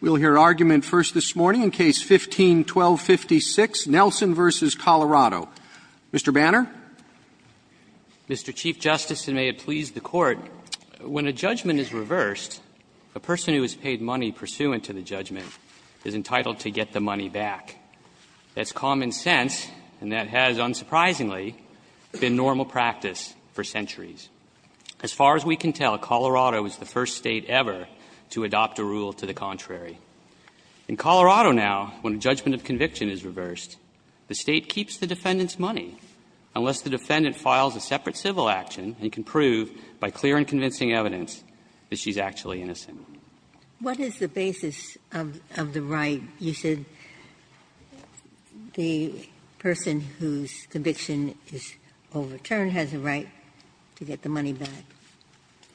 We will hear argument first this morning in Case No. 15-1256, Nelson v. Colorado. Mr. Banner. Mr. Chief Justice, and may it please the Court, when a judgment is reversed, a person who has paid money pursuant to the judgment is entitled to get the money back. That's common sense, and that has, unsurprisingly, been normal practice for centuries. As far as we can tell, Colorado is the first State ever to adopt a rule to the contrary. In Colorado now, when a judgment of conviction is reversed, the State keeps the defendant's money unless the defendant files a separate civil action and can prove by clear and convincing evidence that she's actually innocent. Ginsburg. What is the basis of the right? You said the person whose conviction is overturned has a right to get the money back.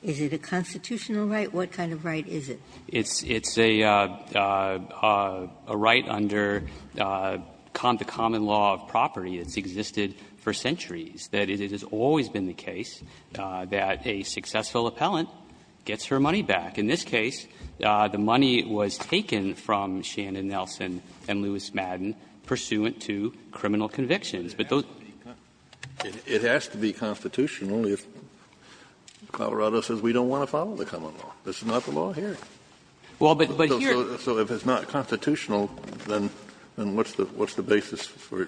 Is it a constitutional right? What kind of right is it? It's a right under the common law of property that's existed for centuries. That is, it has always been the case that a successful appellant gets her money back. In this case, the money was taken from Shannon Nelson and Lewis Madden pursuant to criminal convictions. But those are the same. Kennedy. It has to be constitutional if Colorado says we don't want to follow the common law. This is not the law here. Well, but here. So if it's not constitutional, then what's the basis for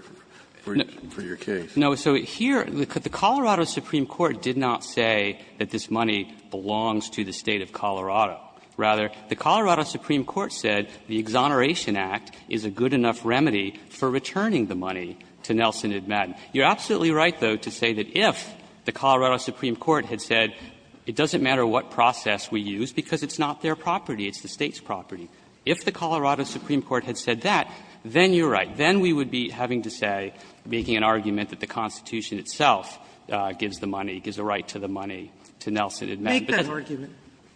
your case? No. So here, the Colorado Supreme Court did not say that this money belongs to the State of Colorado. Rather, the Colorado Supreme Court said the Exoneration Act is a good enough remedy for returning the money to Nelson and Madden. You're absolutely right, though, to say that if the Colorado Supreme Court had said it doesn't matter what process we use because it's not their property, it's the State's property. If the Colorado Supreme Court had said that, then you're right. Then we would be having to say, making an argument that the Constitution itself gives the money, gives the right to the money to Nelson and Madden. Sotomayor, make that argument.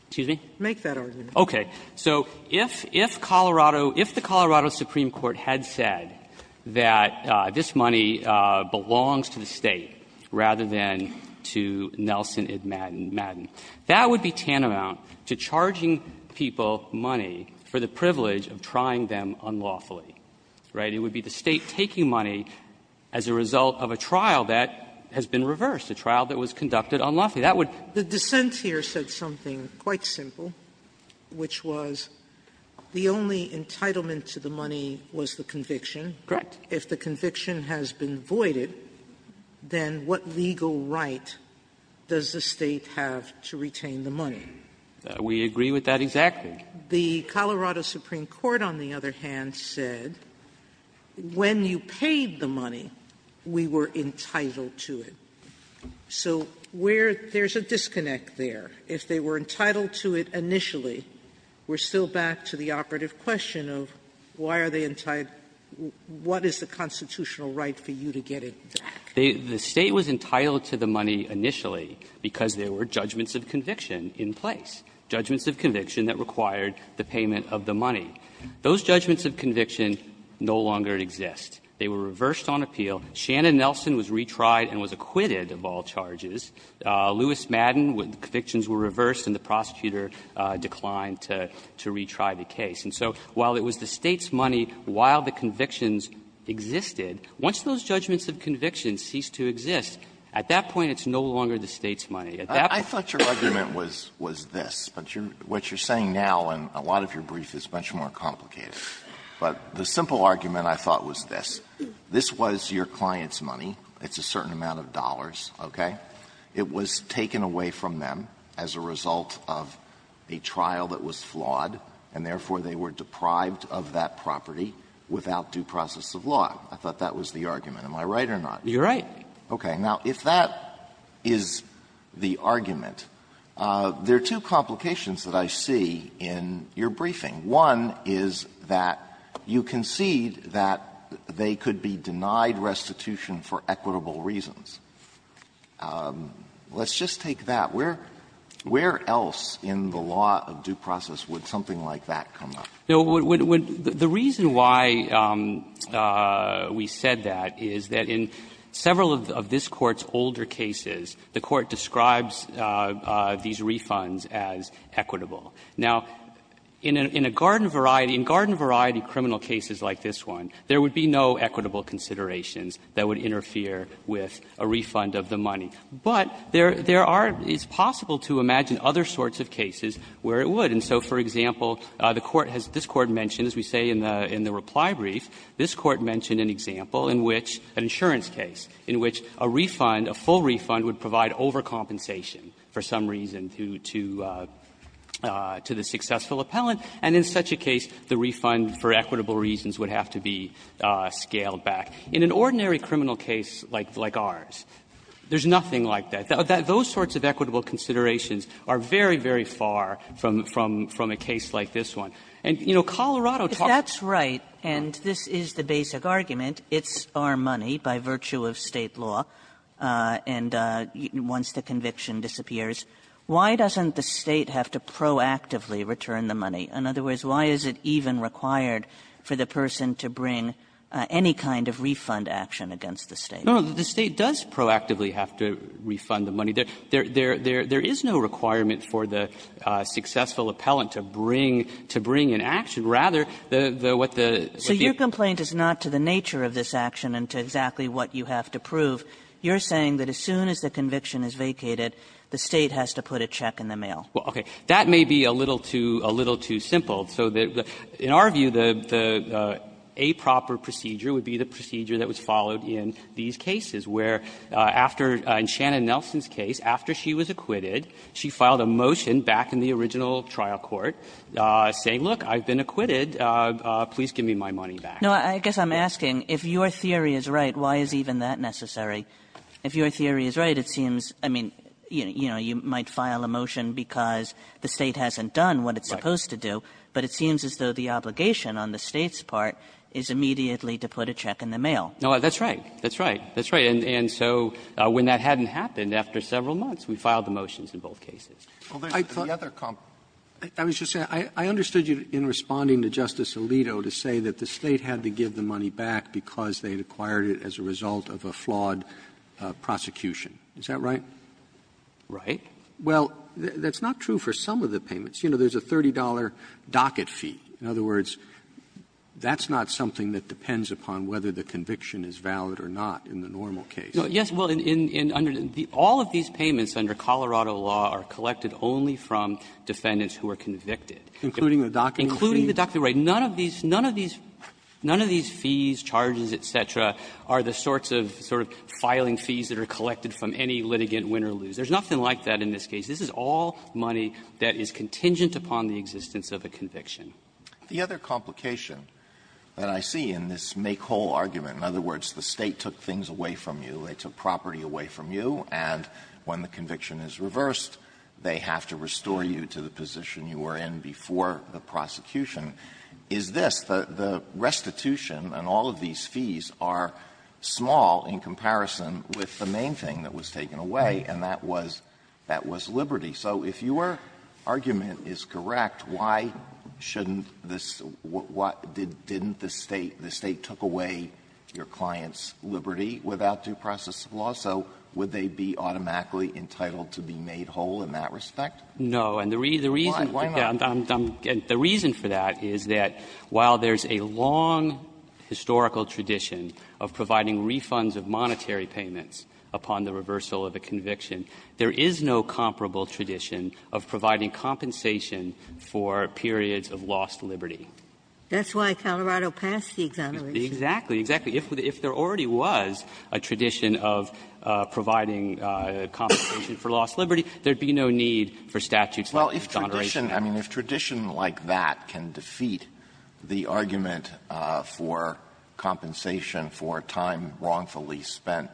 Excuse me? Make that argument. Okay. So if Colorado – if the Colorado Supreme Court had said that this money belongs to the State rather than to Nelson and Madden, that would be tantamount to charging people money for the privilege of trying them unlawfully, right? It would be the State taking money as a result of a trial that has been reversed, a trial that was conducted unlawfully. That would be the case. Sotomayor, the dissent here said something quite simple, which was the only entitlement to the money was the conviction. Correct. If the conviction has been voided, then what legal right does the State have to retain the money? We agree with that exactly. The Colorado Supreme Court, on the other hand, said when you paid the money, we were entitled to it. So where – there's a disconnect there. If they were entitled to it initially, we're still back to the operative question of why are they entitled – what is the constitutional right for you to get it back? The State was entitled to the money initially because there were judgments of conviction in place, judgments of conviction that required the payment of the money. Those judgments of conviction no longer exist. They were reversed on appeal. Shannon Nelson was retried and was acquitted of all charges. Lewis Madden, convictions were reversed and the prosecutor declined to retry the case. And so while it was the State's money while the convictions existed, once those judgments of conviction ceased to exist, at that point it's no longer the State's money. At that point – Alitono, I thought your argument was this, but what you're saying now in a lot of your brief is much more complicated. But the simple argument I thought was this. This was your client's money. It's a certain amount of dollars, okay? It was taken away from them as a result of a trial that was flawed, and therefore they were deprived of that property without due process of law. I thought that was the argument. Am I right or not? Sotomayor You're right. Alitono Okay. Now, if that is the argument, there are two complications that I see in your briefing. One is that you concede that they could be denied restitution for equitable reasons. Let's just take that. Where else in the law of due process would something like that come up? Lewis Madden The reason why we said that is that in several of this Court's older cases, the Court describes these refunds as equitable. Now, in a garden variety, in garden variety criminal cases like this one, there would be no equitable considerations that would interfere with a refund of the money. But there are – it's possible to imagine other sorts of cases where it would. And so, for example, the Court has – this Court mentioned, as we say in the reply brief, this Court mentioned an example in which an insurance case, in which a refund, a full refund, would provide overcompensation for some reason to the successful appellant, and in such a case, the refund for equitable reasons would have to be scaled back. In an ordinary criminal case like ours, there's nothing like that. Those sorts of equitable considerations are very, very far from a case like this one. And, you know, Colorado talks about this. Kagan If that's right, and this is the basic argument, it's our money by virtue of State law, and once the conviction disappears, why doesn't the State have to proactively return the money? In other words, why is it even required for the person to bring any kind of refund action against the State? Bursch No, no. The State does proactively have to refund the money. There is no requirement for the successful appellant to bring an action. Rather, what the – Kagan The argument is not to the nature of this action and to exactly what you have to prove. You're saying that as soon as the conviction is vacated, the State has to put a check in the mail. Bursch Well, okay. That may be a little too – a little too simple. So the – in our view, the – the a-proper procedure would be the procedure that was followed in these cases, where after – in Shannon Nelson's case, after she was acquitted, she filed a motion back in the original trial court saying, look, I've been acquitted, please give me my money back. Kagan No, I guess I'm asking, if your theory is right, why is even that necessary? If your theory is right, it seems – I mean, you know, you might file a motion because the State hasn't done what it's supposed to do, but it seems as though the obligation on the State's part is immediately to put a check in the mail. Bursch No, that's right. That's right. That's right. And so when that hadn't happened, after several months, we filed the motions in both cases. Roberts I thought the other – I was just saying, I understood you in responding to Justice Alito to say that the State had to give the money back because they'd acquired it as a result of a flawed prosecution. Is that right? Bursch Right. Roberts Well, that's not true for some of the payments. You know, there's a $30 docket fee. In other words, that's not something that depends upon whether the conviction is valid or not in the normal case. Bursch Yes. Well, in – under the – all of these payments under Colorado law are collected only from defendants who are convicted. Roberts Including the docketing fee? Bursch Including the docketing fee. None of these – none of these fees, charges, et cetera, are the sorts of sort of filing fees that are collected from any litigant win or lose. There's nothing like that in this case. This is all money that is contingent upon the existence of a conviction. Alito The other complication that I see in this make-whole argument, in other words, the State took things away from you, they took property away from you, and when the conviction is reversed, they have to restore you to the position you were in before the prosecution, is this. The restitution and all of these fees are small in comparison with the main thing that was taken away, and that was – that was liberty. So if your argument is correct, why shouldn't this – what – didn't the State – the State took away your client's liberty without due process of law, so would they be automatically entitled to be made whole in that respect? No. And the reason – Why not? The reason for that is that while there's a long historical tradition of providing refunds of monetary payments upon the reversal of a conviction, there is no comparable tradition of providing compensation for periods of lost liberty. That's why Colorado passed the exoneration. Exactly. Exactly. If there already was a tradition of providing compensation for lost liberty, there should be no need for statutes like exoneration. Well, if tradition – I mean, if tradition like that can defeat the argument for compensation for time wrongfully spent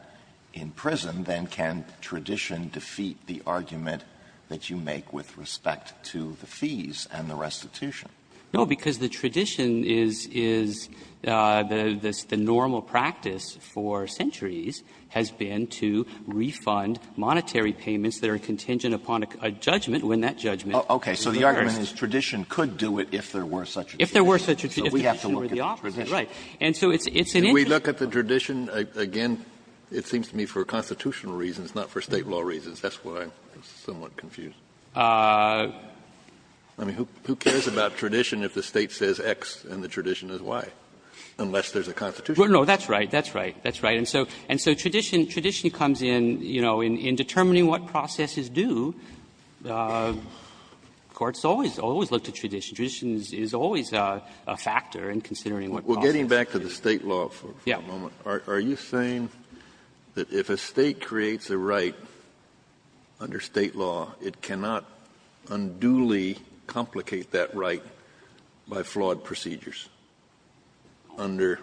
in prison, then can tradition defeat the argument that you make with respect to the fees and the restitution? No, because the tradition is – is the – the normal practice for centuries has been to refund monetary payments that are contingent upon a judgment when that judgment is reversed. Okay. So the argument is tradition could do it if there were such a tradition. If there were such a tradition, if the tradition were the opposite, right. And so it's an interesting point. If we look at the tradition, again, it seems to me for constitutional reasons, not for State law reasons. That's why I'm somewhat confused. I mean, who cares about tradition if the State says X and the tradition is Y, unless there's a constitution? No, that's right. That's right. That's right. And so – and so tradition – tradition comes in, you know, in determining what process is due. Courts always – always look to tradition. Tradition is always a – a factor in considering what process is due. Well, getting back to the State law for a moment, are you saying that if a State creates a right under State law, it cannot unduly complicate that right by flawed procedures under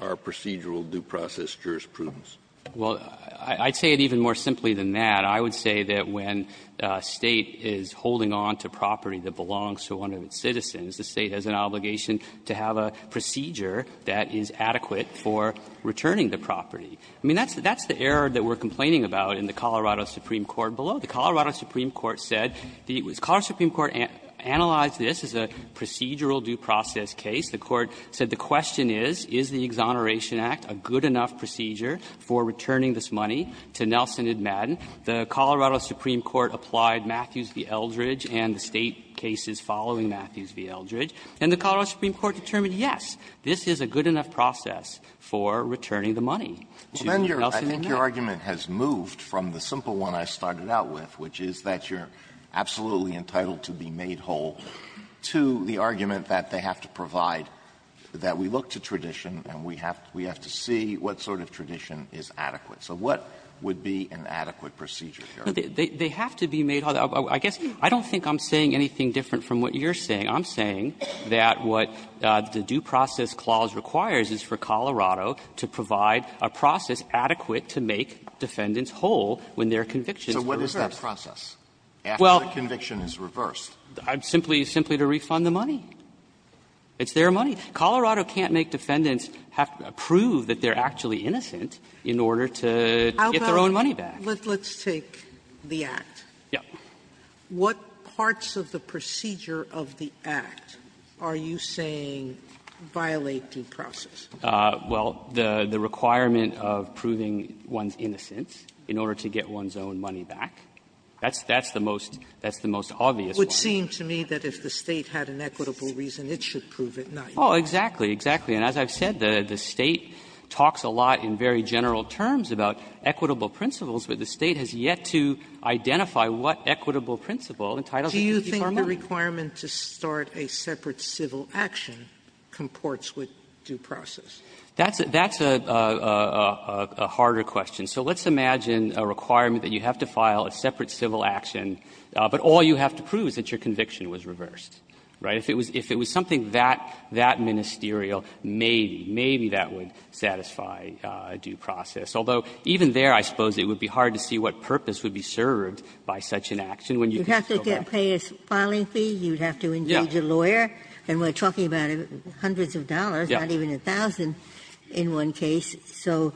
our procedural due process jurisprudence? Well, I'd say it even more simply than that. I would say that when a State is holding on to property that belongs to one of its citizens, the State has an obligation to have a procedure that is adequate for returning the property. I mean, that's – that's the error that we're complaining about in the Colorado Supreme Court below. The Colorado Supreme Court said the – the Colorado Supreme Court analyzed this as a case. The Court said the question is, is the Exoneration Act a good enough procedure for returning this money to Nelson and Madden? The Colorado Supreme Court applied Matthews v. Eldridge and the State cases following Matthews v. Eldridge. And the Colorado Supreme Court determined, yes, this is a good enough process for returning the money to Nelson and Madden. Well, then your – I think your argument has moved from the simple one I started out with, which is that you're absolutely entitled to be made whole, to the argument that they have to provide – that we look to tradition and we have to see what sort of tradition is adequate. So what would be an adequate procedure here? They have to be made whole. I guess – I don't think I'm saying anything different from what you're saying. I'm saying that what the due process clause requires is for Colorado to provide a process adequate to make defendants whole when their convictions are reversed. So what is that process, after the conviction is reversed? Simply – simply to refund the money. It's their money. Colorado can't make defendants have to prove that they're actually innocent in order to get their own money back. Sotomayor, let's take the Act. Yeah. What parts of the procedure of the Act are you saying violate due process? Well, the requirement of proving one's innocence in order to get one's own money back. That's the most – that's the most obvious one. It would seem to me that if the State had an equitable reason, it should prove it, not you. Oh, exactly. Exactly. And as I've said, the State talks a lot in very general terms about equitable principles, but the State has yet to identify what equitable principle entitles it to determine. Do you think the requirement to start a separate civil action comports with due process? That's a – that's a harder question. So let's imagine a requirement that you have to file a separate civil action, but all you have to prove is that your conviction was reversed, right? If it was something that ministerial, maybe, maybe that would satisfy due process. Although, even there, I suppose it would be hard to see what purpose would be served by such an action when you can still get it. You'd have to pay a filing fee, you'd have to engage a lawyer, and we're talking about hundreds of dollars, not even $1,000 in one case. So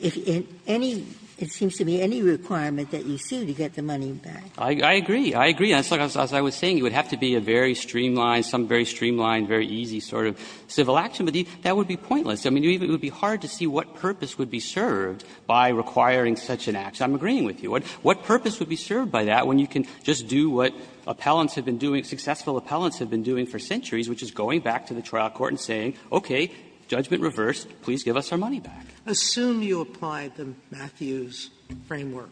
if any – it seems to me any requirement that you sue to get the money back I agree. I agree. As I was saying, it would have to be a very streamlined, some very streamlined, very easy sort of civil action, but that would be pointless. I mean, it would be hard to see what purpose would be served by requiring such an action. I'm agreeing with you. What purpose would be served by that when you can just do what appellants have been doing, successful appellants have been doing for centuries, which is going back to the trial court and saying, okay, judgment reversed, please give us our money back. Sotomayor, assume you apply the Matthews framework.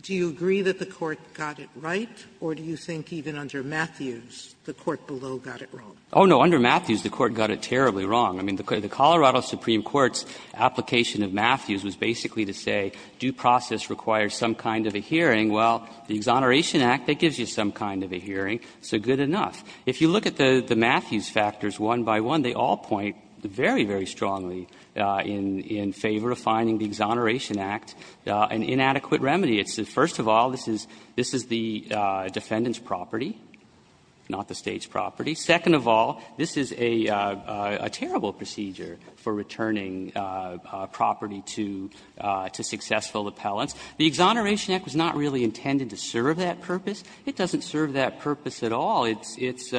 Do you agree that the Court got it right, or do you think even under Matthews the Court below got it wrong? Oh, no. Under Matthews, the Court got it terribly wrong. I mean, the Colorado Supreme Court's application of Matthews was basically to say due process requires some kind of a hearing. Well, the Exoneration Act, that gives you some kind of a hearing, so good enough. If you look at the Matthews factors one by one, they all point very, very strongly in favor of finding the Exoneration Act an inadequate remedy. It's the first of all, this is the defendant's property, not the State's property. Second of all, this is a terrible procedure for returning property to successful appellants. The Exoneration Act was not really intended to serve that purpose. It doesn't serve that purpose at all. It's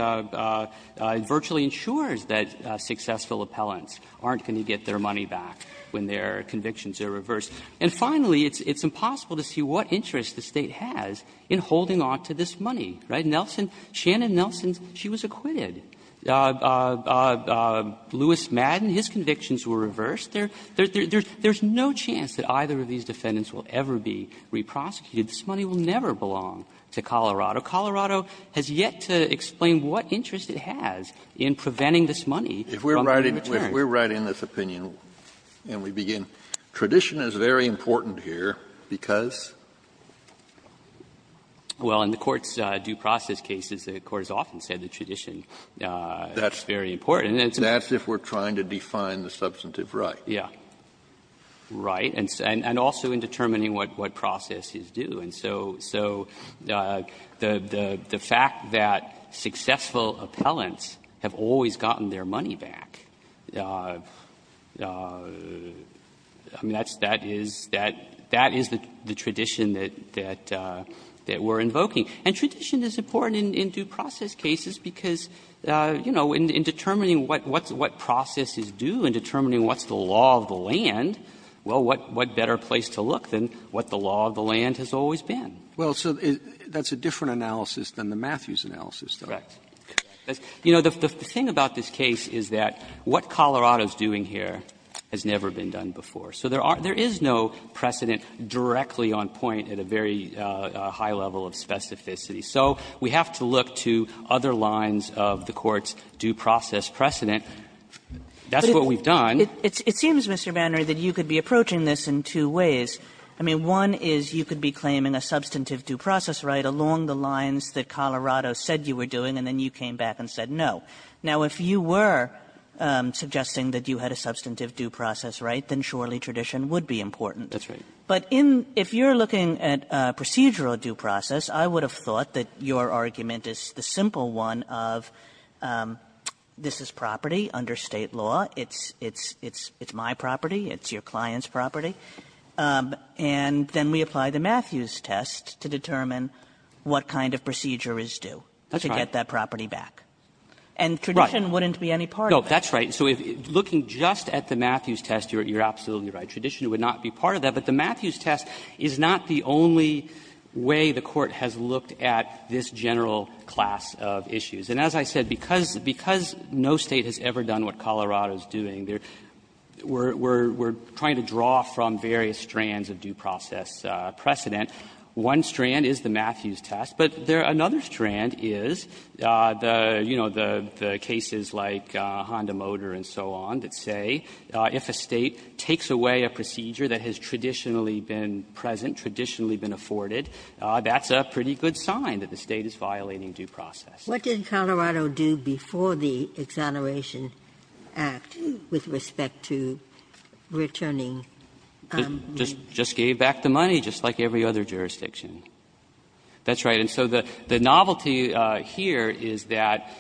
virtually ensures that successful appellants aren't going to get their money back when their convictions are reversed. And finally, it's impossible to see what interest the State has in holding on to this money, right? Nelson, Shannon Nelson, she was acquitted. Lewis Madden, his convictions were reversed. There's no chance that either of these defendants will ever be reprosecuted. This money will never belong to Colorado. Colorado has yet to explain what interest it has in preventing this money from being returned. Kennedy, if we're right in this opinion, and we begin, tradition is very important here because? Well, in the Court's due process cases, the Court has often said that tradition is very important. That's if we're trying to define the substantive right. Yeah, right, and also in determining what process is due. And so the fact that successful appellants have always gotten their money back, I mean, that is the tradition that we're invoking. And tradition is important in due process cases because, you know, in determining what process is due and determining what's the law of the land, well, what better place to look than what the law of the land has always been. Well, so that's a different analysis than the Matthews analysis, though. Correct. You know, the thing about this case is that what Colorado's doing here has never been done before. So there are no precedent directly on point at a very high level of specificity. So we have to look to other lines of the Court's due process precedent. That's what we've done. It seems, Mr. Bannery, that you could be approaching this in two ways. I mean, one is you could be claiming a substantive due process right along the lines that Colorado said you were doing, and then you came back and said no. Now, if you were suggesting that you had a substantive due process right, then surely tradition would be important. That's right. But in – if you're looking at procedural due process, I would have thought that your argument is the simple one of this is property under State law. It's my property. It's your client's property. And then we apply the Matthews test to determine what kind of procedure is due to get that property back. And tradition wouldn't be any part of it. No, that's right. So looking just at the Matthews test, you're absolutely right. Tradition would not be part of that. But the Matthews test is not the only way the Court has looked at this general class of issues. And as I said, because no State has ever done what Colorado is doing, we're trying to draw from various strands of due process precedent. One strand is the Matthews test, but another strand is the, you know, the cases like Honda Motor and so on that say if a State takes away a procedure that has tradition been present, traditionally been afforded, that's a pretty good sign that the State is violating due process. Ginsburg. What did Colorado do before the Exoneration Act with respect to returning money? Just gave back the money, just like every other jurisdiction. That's right. And so the novelty here is that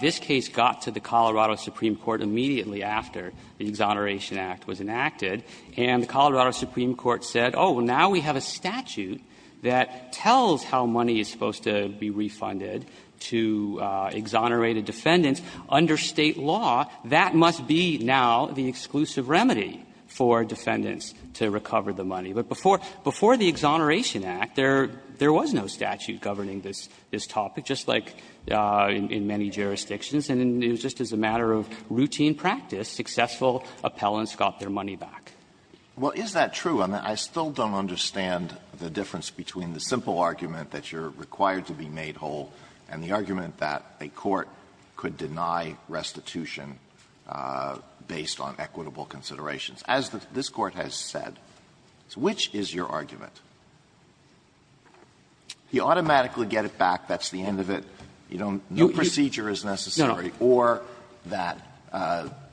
this case got to the Colorado Supreme Court immediately after the Exoneration Act was enacted. And the Colorado Supreme Court said, oh, now we have a statute that tells how money is supposed to be refunded to exonerated defendants under State law. That must be now the exclusive remedy for defendants to recover the money. But before the Exoneration Act, there was no statute governing this topic, just like in many jurisdictions. And it was just as a matter of routine practice, successful appellants got their money back. Alitoson Well, is that true? I mean, I still don't understand the difference between the simple argument that you're required to be made whole and the argument that a court could deny restitution based on equitable considerations. As this Court has said, which is your argument? You automatically get it back, that's the end of it, you don't need procedure as necessary, or that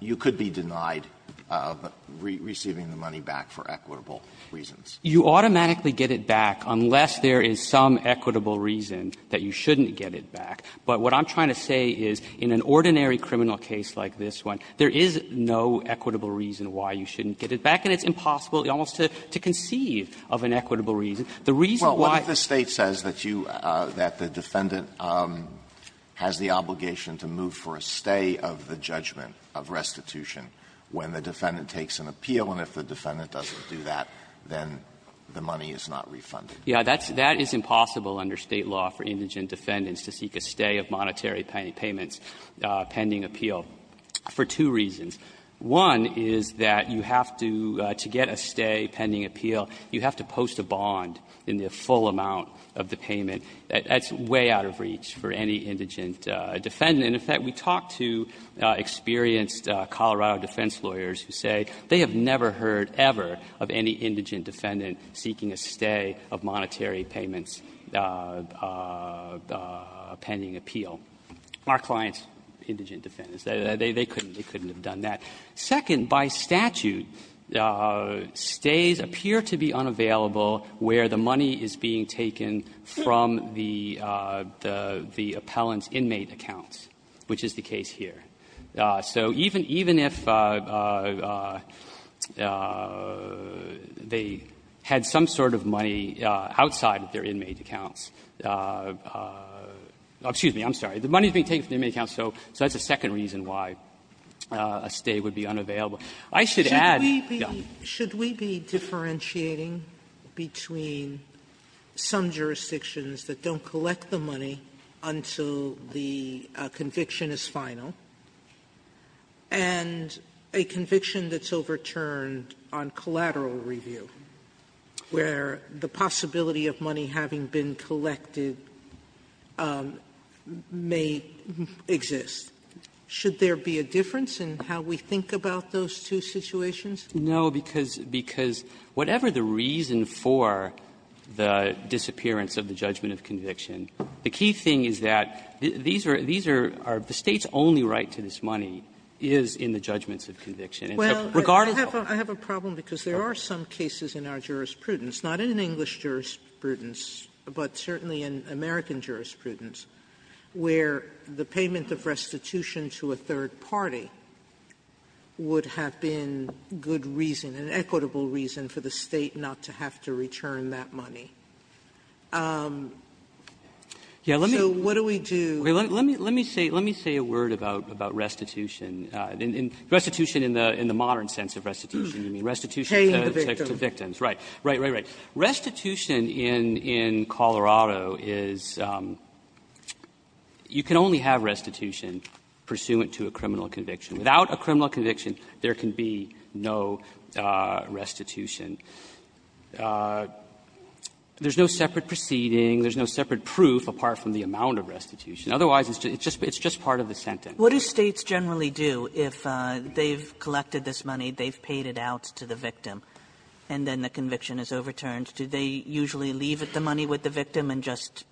you could be denied receiving the money back for equitable reasons. You automatically get it back unless there is some equitable reason that you shouldn't get it back. But what I'm trying to say is in an ordinary criminal case like this one, there is no equitable reason why you shouldn't get it back, and it's impossible almost to conceive of an equitable reason. The reason why the State says that you, that the defendant has the obligation to move for a stay of the judgment of restitution when the defendant takes an appeal, and if the defendant doesn't do that, then the money is not refunded. Yeah, that's impossible under State law for indigent defendants to seek a stay of monetary payments pending appeal for two reasons. One is that you have to, to get a stay pending appeal, you have to post a bond in the full amount of the payment. That's way out of reach for any indigent defendant. In fact, we talked to experienced Colorado defense lawyers who say they have never heard ever of any indigent defendant seeking a stay of monetary payments pending appeal. Our clients, indigent defendants, they couldn't have done that. Second, by statute, stays appear to be unavailable where the money is being taken from the, the appellant's inmate accounts, which is the case here. So even, even if they had some sort of money outside of their inmate accounts of the, excuse me, I'm sorry, the money is being taken from the inmate account, so that's a second reason why a stay would be unavailable. I should add, no. Sotomayor, there is a gap between some jurisdictions that don't collect the money until the conviction is final and a conviction that's overturned on collateral review, where the possibility of money having been collected may exist. Should there be a difference in how we think about those two situations? No, because, because whatever the reason for the disappearance of the judgment of conviction, the key thing is that these are, these are, the State's only right to this money is in the judgments of conviction. And so, regardless of the other cases, there is a gap between the two. Sotomayor, I have a problem because there are some cases in our jurisprudence, not in English jurisprudence, but certainly in American jurisprudence, where the payment of restitution to a third party would have been good reason, an equitable reason for the State not to have to return that money. So what do we do? Let me say, let me say a word about restitution. Restitution in the modern sense of restitution, I mean, restitution to victims. Paying the victim. Right, right, right, right. Restitution in, in Colorado is, you can only have restitution pursuant to a criminal conviction. Without a criminal conviction, there can be no restitution. There's no separate proceeding. There's no separate proof apart from the amount of restitution. Otherwise, it's just, it's just part of the sentence. Kagan. What do States generally do if they've collected this money, they've paid it out to the victim, and then the conviction is overturned? Do they usually leave the money with the victim and just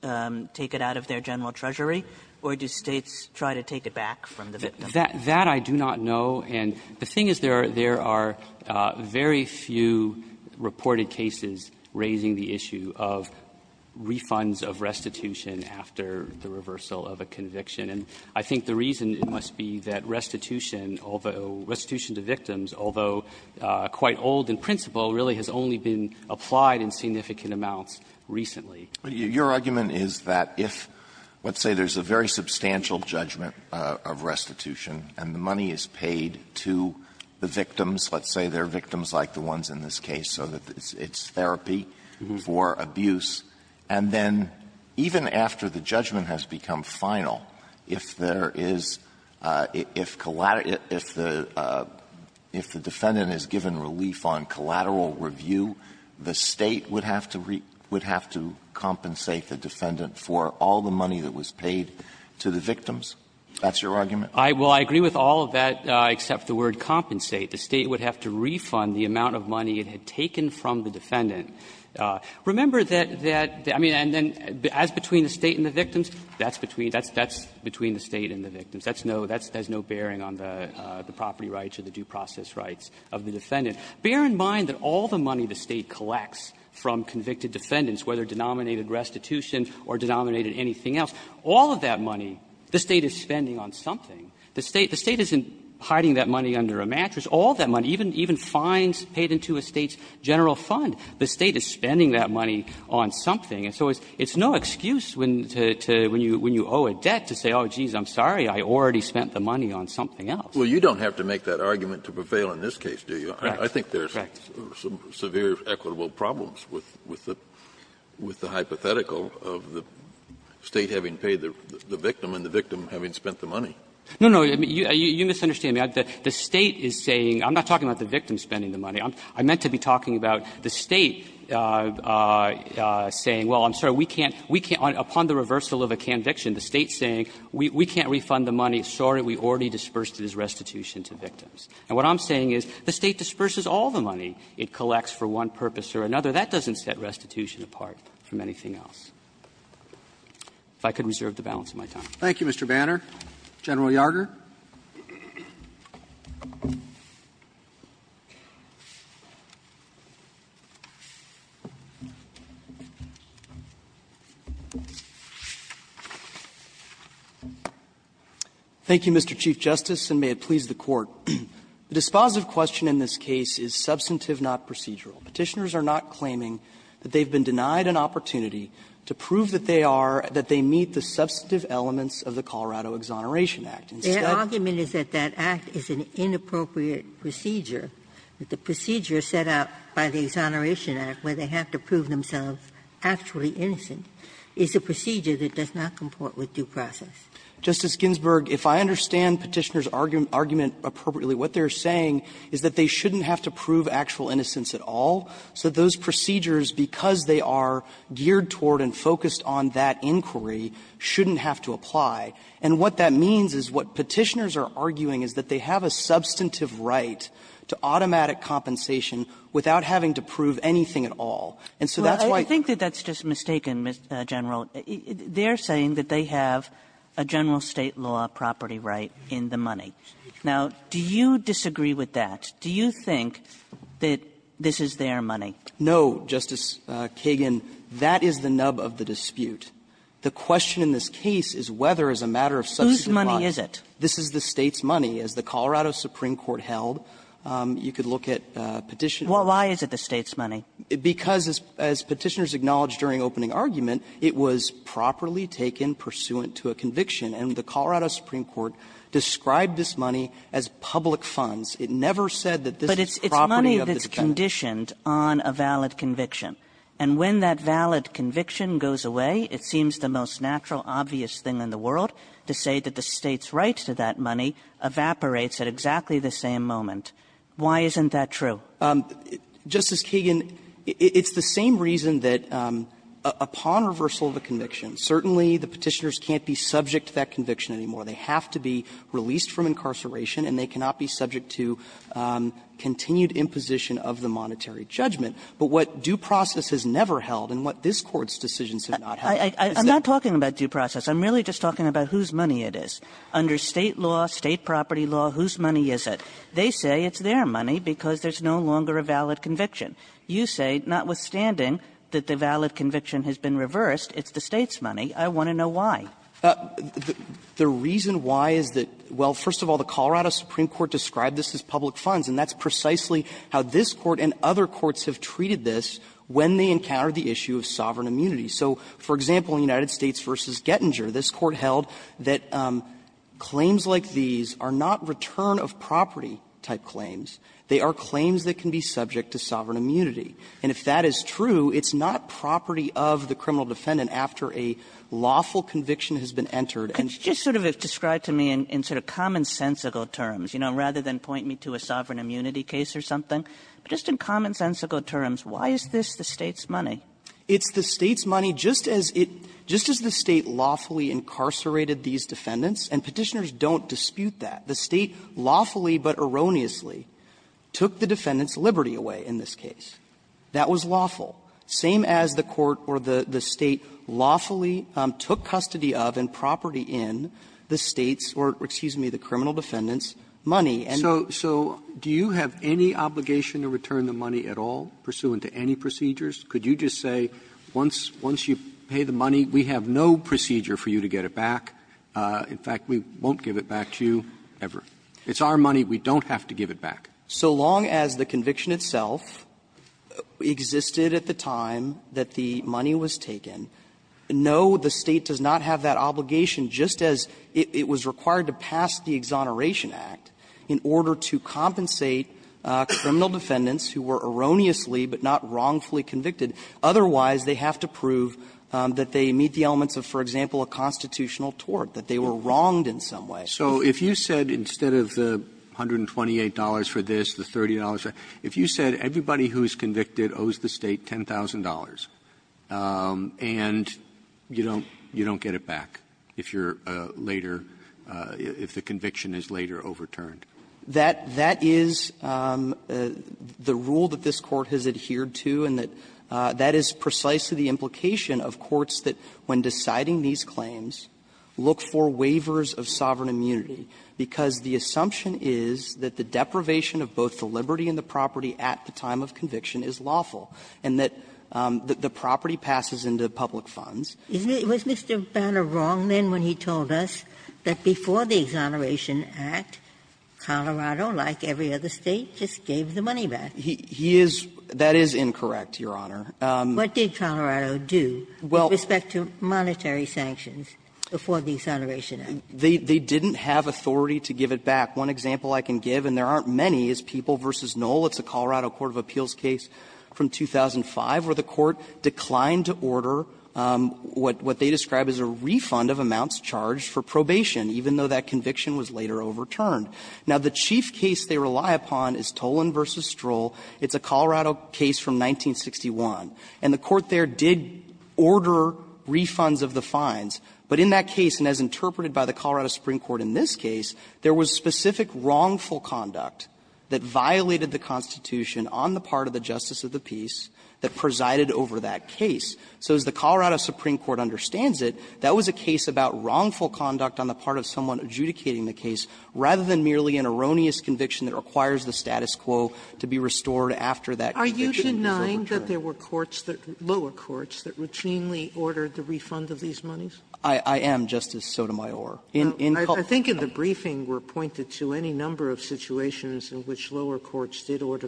take it out of their general treasury, or do States try to take it back from the victim? That, that I do not know. And the thing is, there are, there are very few reported cases raising the issue of refunds of restitution after the reversal of a conviction. And I think the reason must be that restitution, although, restitution to victims, although quite old in principle, really has only been applied in significant amounts recently. Alito, your argument is that if, let's say there's a very substantial judgment of restitution and the money is paid to the victims, let's say they're victims like the ones in this case, so that it's therapy for abuse, and then even after the judgment has become final, if there is, if, if the, if the, if the, if the, if the defendant is given relief on collateral review, the State would have to re, would have to compensate the defendant for all the money that was paid to the victims? That's your argument? I, well, I agree with all of that, except the word compensate. The State would have to refund the amount of money it had taken from the defendant. Remember that, that, I mean, and then as between the State and the victims, that's no, that's, there's no bearing on the, the property rights or the due process rights of the defendant. Bear in mind that all the money the State collects from convicted defendants, whether denominated restitution or denominated anything else, all of that money the State is spending on something. The State, the State isn't hiding that money under a mattress. All that money, even, even fines paid into a State's general fund, the State is spending that money on something. And so it's, it's no excuse when, to, to, when you, when you owe a debt to say, oh, I already spent the money on something else. Kennedy, Well, you don't have to make that argument to prevail in this case, do you? I think there's some severe equitable problems with, with the, with the hypothetical of the State having paid the, the victim and the victim having spent the money. No, no. You, you misunderstand me. The State is saying, I'm not talking about the victim spending the money. I'm, I meant to be talking about the State saying, well, I'm sorry, we can't, we can't upon the reversal of a conviction, the State's saying, we, we can't refund the money. Sorry, we already disbursed it as restitution to victims. And what I'm saying is, the State disburses all the money it collects for one purpose or another. That doesn't set restitution apart from anything else. If I could reserve the balance of my time. Roberts. Roberts. Thank you, Mr. Banner. General Yardner. Thank you, Mr. Chief Justice, and may it please the Court. The dispositive question in this case is substantive, not procedural. Petitioners are not claiming that they've been denied an opportunity to prove that they are, that they meet the substantive elements of the Colorado Exoneration Act. Their argument is that that act is an inappropriate procedure, that the procedure set out by the Exoneration Act, where they have to prove themselves actually innocent, is a procedure that does not comport with due process. Justice Ginsburg, if I understand Petitioner's argument appropriately, what they're saying is that they shouldn't have to prove actual innocence at all, so those procedures, because they are geared toward and focused on that inquiry, shouldn't have to apply. And what that means is what Petitioner's are arguing is that they have a substantive right to automatic compensation without having to prove anything at all. And so that's why you think that that's just mistaken, Mr. General. They're saying that they have a general State law property right in the money. Now, do you disagree with that? Do you think that this is their money? No, Justice Kagan, that is the nub of the dispute. The question in this case is whether, as a matter of substantive right, this is the State's money. As the Colorado Supreme Court held, you could look at Petitioner's. Well, why is it the State's money? Because, as Petitioner's acknowledged during opening argument, it was properly taken pursuant to a conviction. And the Colorado Supreme Court described this money as public funds. It never said that this is property of the defendant. But it's money that's conditioned on a valid conviction. And when that valid conviction goes away, it seems the most natural, obvious thing in the world to say that the State's right to that money evaporates at exactly the same moment. Why isn't that true? Justice Kagan, it's the same reason that upon reversal of the conviction, certainly the Petitioners can't be subject to that conviction anymore. They have to be released from incarceration, and they cannot be subject to continued imposition of the monetary judgment. But what due process has never held and what this Court's decisions have not held is that the State's money. Kagan I'm not talking about due process. I'm merely just talking about whose money it is. Under State law, State property law, whose money is it? They say it's their money because there's no longer a valid conviction. You say notwithstanding that the valid conviction has been reversed, it's the State's money. I want to know why. The reason why is that, well, first of all, the Colorado Supreme Court described this as public funds. And that's precisely how this Court and other courts have treated this when they encountered the issue of sovereign immunity. So, for example, in United States v. Gettinger, this Court held that claims like these are not return-of-property type claims. They are claims that can be subject to sovereign immunity. And if that is true, it's not property of the criminal defendant after a lawful conviction has been entered. And just sort of describe to me in sort of commonsensical terms, you know, rather than point me to a sovereign immunity case or something, but just in commonsensical terms, why is this the State's money? It's the State's money just as it – just as the State lawfully incarcerated these defendants, and Petitioners don't dispute that. The State lawfully but erroneously took the defendant's liberty away in this case. That was lawful. Same as the Court or the State lawfully took custody of and property in the State's or, excuse me, the criminal defendant's money. And so do you have any obligation to return the money at all pursuant to any procedures? Could you just say once you pay the money, we have no procedure for you to get it back. In fact, we won't give it back to you ever. It's our money. We don't have to give it back. So long as the conviction itself existed at the time that the money was taken, no, the State does not have that obligation, just as it was required to pass the Exoneration Act in order to compensate criminal defendants who were erroneously but not wrongfully convicted. Otherwise, they have to prove that they meet the elements of, for example, a constitutional tort, that they were wronged in some way. Roberts, So if you said instead of the $128 for this, the $30 for that, if you said everybody who is convicted owes the State $10,000, and you don't get it back if you're later – if the conviction is later overturned? That is the rule that this Court has adhered to, and that is precisely the implication of courts that, when deciding these claims, look for waivers of sovereign immunity, because the assumption is that the deprivation of both the liberty and the property at the time of conviction is lawful, and that the property passes into public funds. Ginsburg. Was Mr. Banner wrong then when he told us that before the Exoneration Act, Colorado, like every other State, just gave the money back? He is – that is incorrect, Your Honor. What did Colorado do with respect to monetary sanctions before the Exoneration Act? They didn't have authority to give it back. One example I can give, and there aren't many, is People v. Knoll. It's a Colorado court of appeals case from 2005 where the Court declined to order what they describe as a refund of amounts charged for probation, even though that conviction was later overturned. Now, the chief case they rely upon is Tolan v. Stroll. It's a Colorado case from 1961. And the Court there did order refunds of the fines, but in that case, and as interpreted by the Colorado Supreme Court in this case, there was specific wrongful conduct that violated the Constitution on the part of the justice of the peace that presided over that case. So as the Colorado Supreme Court understands it, that was a case about wrongful conduct on the part of someone adjudicating the case, rather than merely an erroneous conviction that requires the status quo to be restored after that conviction was overturned. Are you denying that there were courts that – lower courts that routinely ordered the refund of these monies? I am, Justice Sotomayor. In – in – I think in the briefing were pointed to any number of situations in which lower courts did order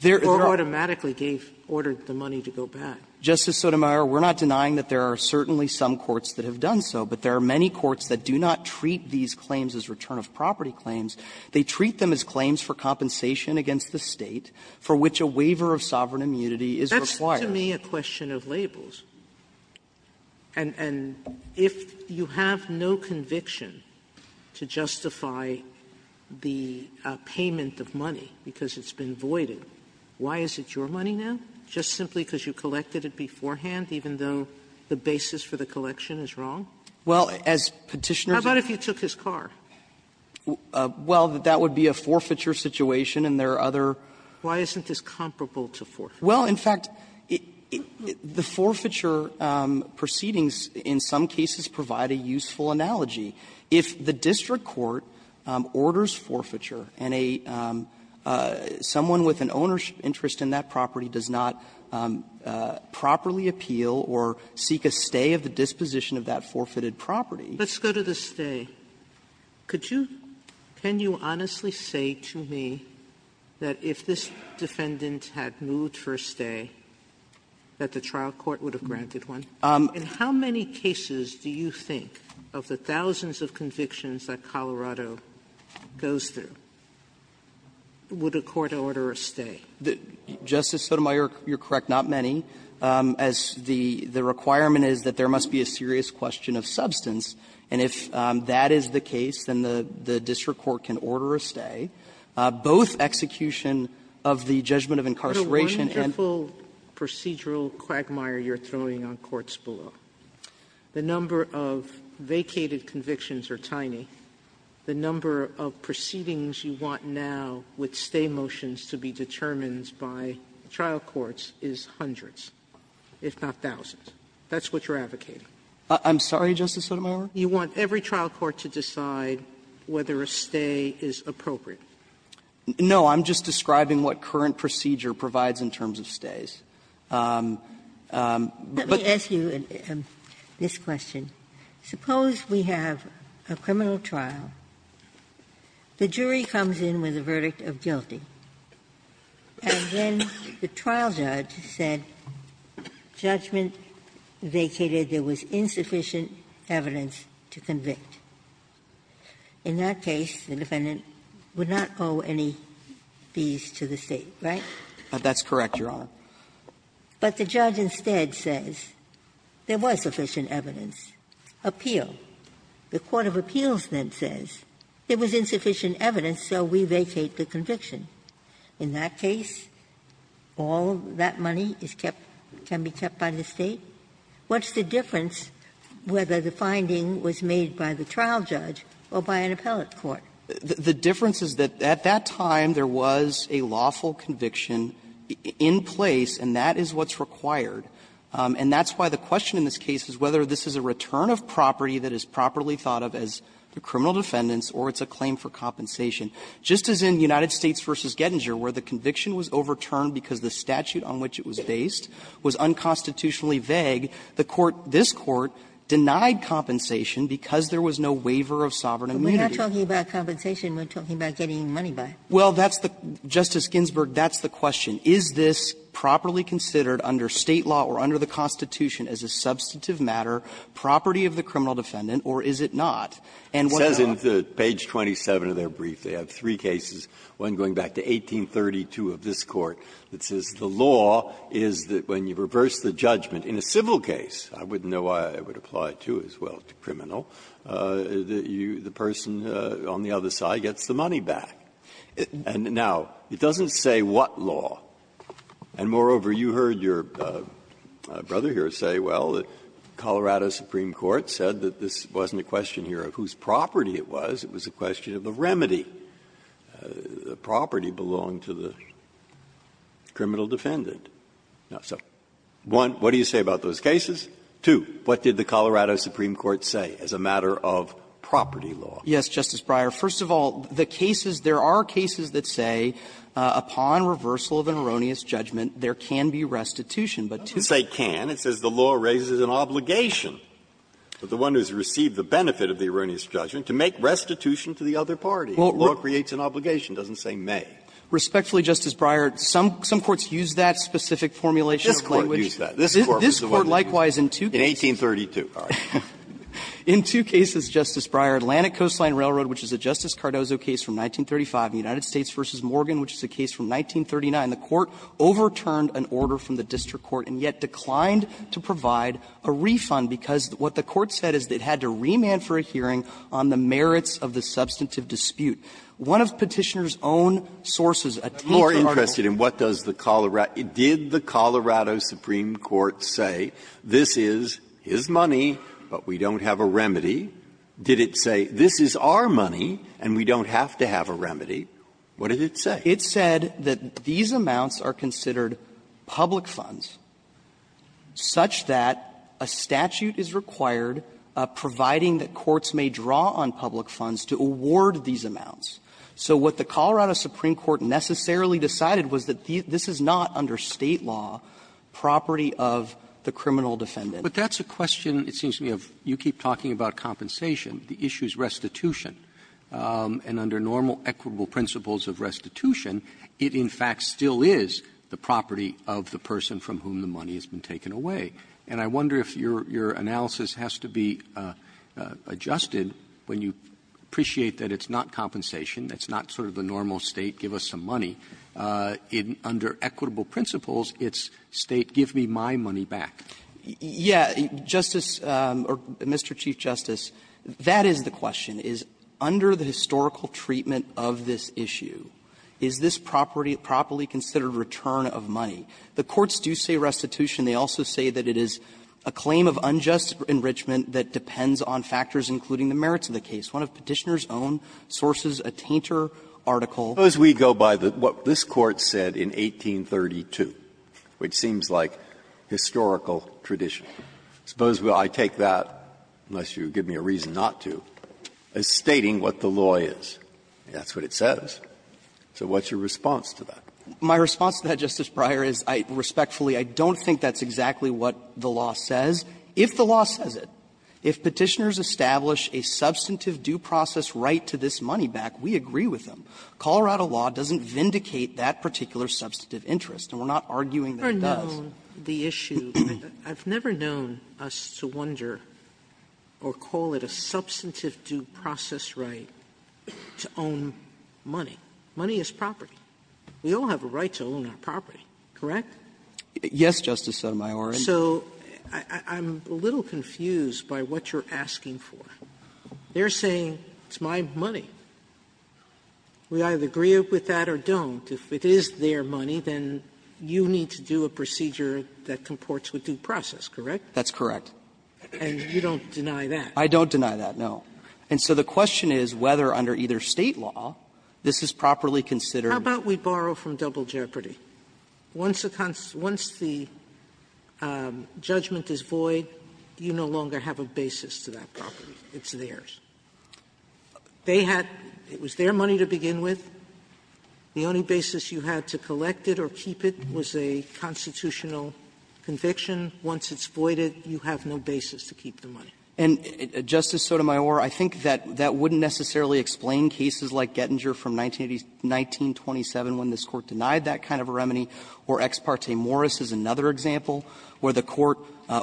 the – or automatically gave – ordered the money to go back. Justice Sotomayor, we're not denying that there are certainly some courts that have done so, but there are many courts that do not treat these claims as return of property claims. They treat them as claims for compensation against the State for which a waiver of sovereign immunity is required. Sotomayor, this is to me a question of labels, and – and if you have no conviction to justify the payment of money because it's been voided, why is it your money now, just simply because you collected it beforehand, even though the basis for the collection is wrong? Well, as Petitioner's How about if you took his car? Well, that that would be a forfeiture situation, and there are other Why isn't this comparable to forfeiture? Well, in fact, the forfeiture proceedings in some cases provide a useful analogy. If the district court orders forfeiture and a – someone with an ownership interest in that property does not properly appeal or seek a stay of the disposition of that forfeited property. Sotomayor, let's go to the stay. Could you – can you honestly say to me that if this defendant had moved for a stay, that the trial court would have granted one? In how many cases do you think of the thousands of convictions that Colorado goes through, would a court order a stay? Justice Sotomayor, you're correct, not many, as the requirement is that there must be a serious question of substance, and if that is the case, then the district court can order a stay, both execution of the judgment of incarceration and The wonderful procedural quagmire you're throwing on courts below. The number of vacated convictions are tiny. The number of proceedings you want now with stay motions to be determined by trial courts is hundreds, if not thousands. That's what you're advocating. I'm sorry, Justice Sotomayor? You want every trial court to decide whether a stay is appropriate. No, I'm just describing what current procedure provides in terms of stays. But Let me ask you this question. Suppose we have a criminal trial, the jury comes in with a verdict of guilty, and then the trial judge said judgment vacated, there was insufficient evidence to convict. In that case, the defendant would not owe any fees to the State, right? That's correct, Your Honor. But the judge instead says there was sufficient evidence. Appeal. The court of appeals then says there was insufficient evidence, so we vacate the conviction. In that case, all of that money is kept, can be kept by the State. What's the difference whether the finding was made by the trial judge or by an appellate court? The difference is that at that time there was a lawful conviction in place, and that is what's required. And that's why the question in this case is whether this is a return of property that is properly thought of as the criminal defendant's or it's a claim for compensation. Just as in United States v. Gettinger where the conviction was overturned because the statute on which it was based was unconstitutionally vague, the court, this Court, denied compensation because there was no waiver of sovereign immunity. But we're not talking about compensation, we're talking about getting money back. Well, that's the, Justice Ginsburg, that's the question. Is this properly considered under State law or under the Constitution as a substantive matter, property of the criminal defendant, or is it not? And what's not? Breyer, It says in page 27 of their brief, they have three cases, one going back to 1832 of this Court, that says the law is that when you reverse the judgment in a civil case, I wouldn't know why I would apply it, too, as well, to criminal, the person on the other side gets the money back. And now, it doesn't say what law. And moreover, you heard your brother here say, well, the Colorado Supreme Court said that this wasn't a question here of whose property it was, it was a question of the remedy, the property belonging to the criminal defendant. So, one, what do you say about those cases? Two, what did the Colorado Supreme Court say as a matter of property law? Yes, Justice Breyer. First of all, the cases, there are cases that say upon reversal of an erroneous judgment, there can be restitution. But to say can, it says the law raises an obligation. But the one who has received the benefit of the erroneous judgment, to make restitution to the other party. The law creates an obligation, it doesn't say may. Respectfully, Justice Breyer, some courts use that specific formulation of language. This Court used that. This Court was the one that used it in 1832. In two cases, Justice Breyer, Atlantic Coastline Railroad, which is a Justice Cardozo case from 1935, and United States v. Morgan, which is a case from 1939, the Court overturned an order from the district court and yet declined to provide a refund because what the Court said is it had to remand for a hearing on the merits of the substantive dispute. One of Petitioner's own sources, a Tinker article. Breyer, did the Colorado Supreme Court say this is his money, but we don't have a remedy? Did it say this is our money and we don't have to have a remedy? What did it say? It said that these amounts are considered public funds such that a statute is required, providing that courts may draw on public funds to award these amounts. So what the Colorado Supreme Court necessarily decided was that this is not, under State law, property of the criminal defendant. Roberts, but that's a question, it seems to me, of you keep talking about compensation. The issue is restitution. And under normal equitable principles of restitution, it in fact still is the property of the person from whom the money has been taken away. And I wonder if your analysis has to be adjusted when you appreciate that it's not compensation, that's not sort of the normal State give us some money. Under equitable principles, it's State give me my money back. Yeah, Justice or Mr. Chief Justice, that is the question, is under the historical treatment of this issue, is this property properly considered return of money? The courts do say restitution. They also say that it is a claim of unjust enrichment that depends on factors including the merits of the case. One of Petitioner's own sources, a tainter article. Breyer, I suppose we go by what this Court said in 1832, which seems like historical tradition. Suppose I take that, unless you give me a reason not to, as stating what the law is. That's what it says. So what's your response to that? My response to that, Justice Breyer, is I respectfully, I don't think that's exactly what the law says. If the law says it, if Petitioner's establish a substantive due process right to this money back, we agree with them. Colorado law doesn't vindicate that particular substantive interest, and we're not arguing that it does. Sotomayor, I've never known the issue. I've never known us to wonder or call it a substantive due process right to own money. Money is property. We all have a right to own our property, correct? Yes, Justice Sotomayor. So I'm a little confused by what you're asking for. They're saying it's my money. We either agree with that or don't. If it is their money, then you need to do a procedure that comports with due process, correct? That's correct. And you don't deny that? I don't deny that, no. And so the question is whether under either State law, this is properly considered How about we borrow from Double Jeopardy? Once the judgment is void, you no longer have a basis to that property. It's theirs. They had – it was their money to begin with. The only basis you had to collect it or keep it was a constitutional conviction. Once it's voided, you have no basis to keep the money. And, Justice Sotomayor, I think that that wouldn't necessarily explain cases like Gettinger from 1927 when this Court denied that kind of a remedy, or Ex parte Morris is another example where the Court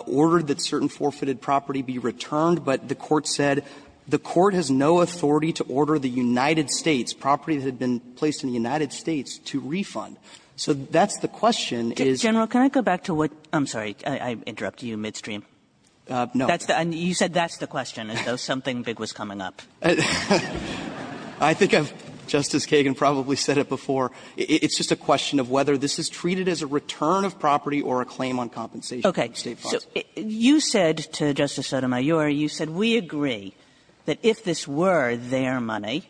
ordered that certain forfeited property be returned, but the Court said the Court has no authority to order the United States, property that had been placed in the United States, to refund. So that's the question, is – General, can I go back to what – I'm sorry, I interrupted you midstream. No. You said that's the question, as though something big was coming up. I think I've, Justice Kagan probably said it before. It's just a question of whether this is treated as a return of property or a claim on compensation from State funds. So you said to Justice Sotomayor, you said, we agree that if this were their money,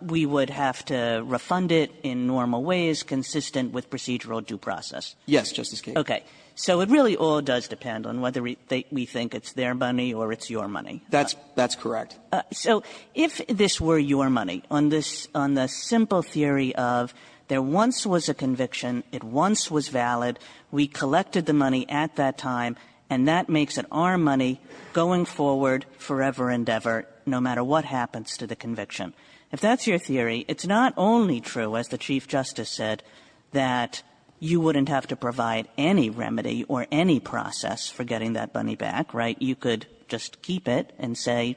we would have to refund it in normal ways, consistent with procedural due process. Yes, Justice Kagan. Okay. So it really all does depend on whether we think it's their money or it's your money. That's correct. So if this were your money, on this – on the simple theory of there once was a conviction, it once was valid, we collected the money at that time, and that makes it our money going forward forever and ever, no matter what happens to the conviction. If that's your theory, it's not only true, as the Chief Justice said, that you wouldn't have to provide any remedy or any process for getting that money back, right? You could just keep it and say,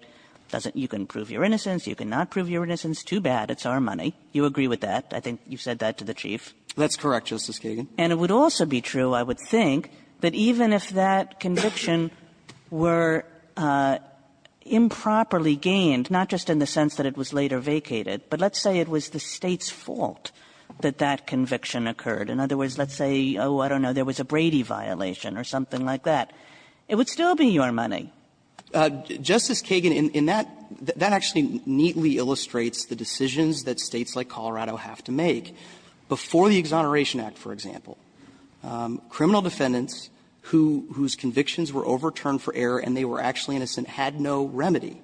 doesn't – you can prove your innocence, you cannot prove your innocence, too bad, it's our money. I think you said that to the Chief. That's correct, Justice Kagan. And it would also be true, I would think, that even if that conviction were improperly gained, not just in the sense that it was later vacated, but let's say it was the State's fault that that conviction occurred. In other words, let's say, oh, I don't know, there was a Brady violation or something like that, it would still be your money. Justice Kagan, in that – that actually neatly illustrates the decisions that States like Colorado have to make. Before the Exoneration Act, for example, criminal defendants whose convictions were overturned for error and they were actually innocent had no remedy,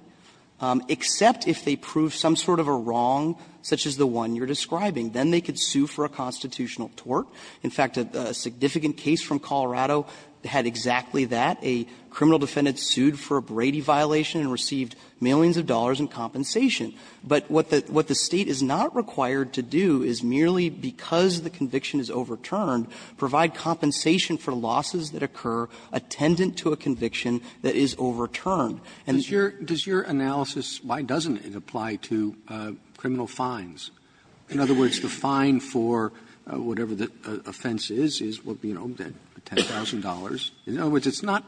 except if they proved some sort of a wrong such as the one you're describing. Then they could sue for a constitutional tort. In fact, a significant case from Colorado had exactly that. A criminal defendant sued for a Brady violation and received millions of dollars in compensation. But what the State is not required to do is merely because the conviction is overturned, provide compensation for losses that occur attendant to a conviction that is overturned. And it's your – Roberts, does your analysis, why doesn't it apply to criminal fines? In other words, the fine for whatever the offense is, is, you know, $10,000. In other words, it's not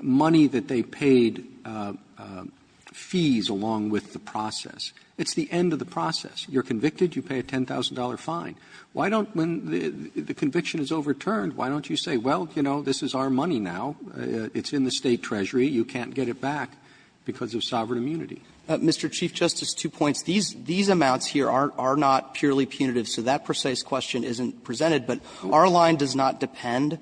money that they paid fees along with the process. It's the end of the process. You're convicted, you pay a $10,000 fine. Why don't when the conviction is overturned, why don't you say, well, you know, this is our money now, it's in the State treasury, you can't get it back because of sovereign immunity? Mr. Chief Justice, two points. These amounts here are not purely punitive, so that precise question isn't presented. But our line does not depend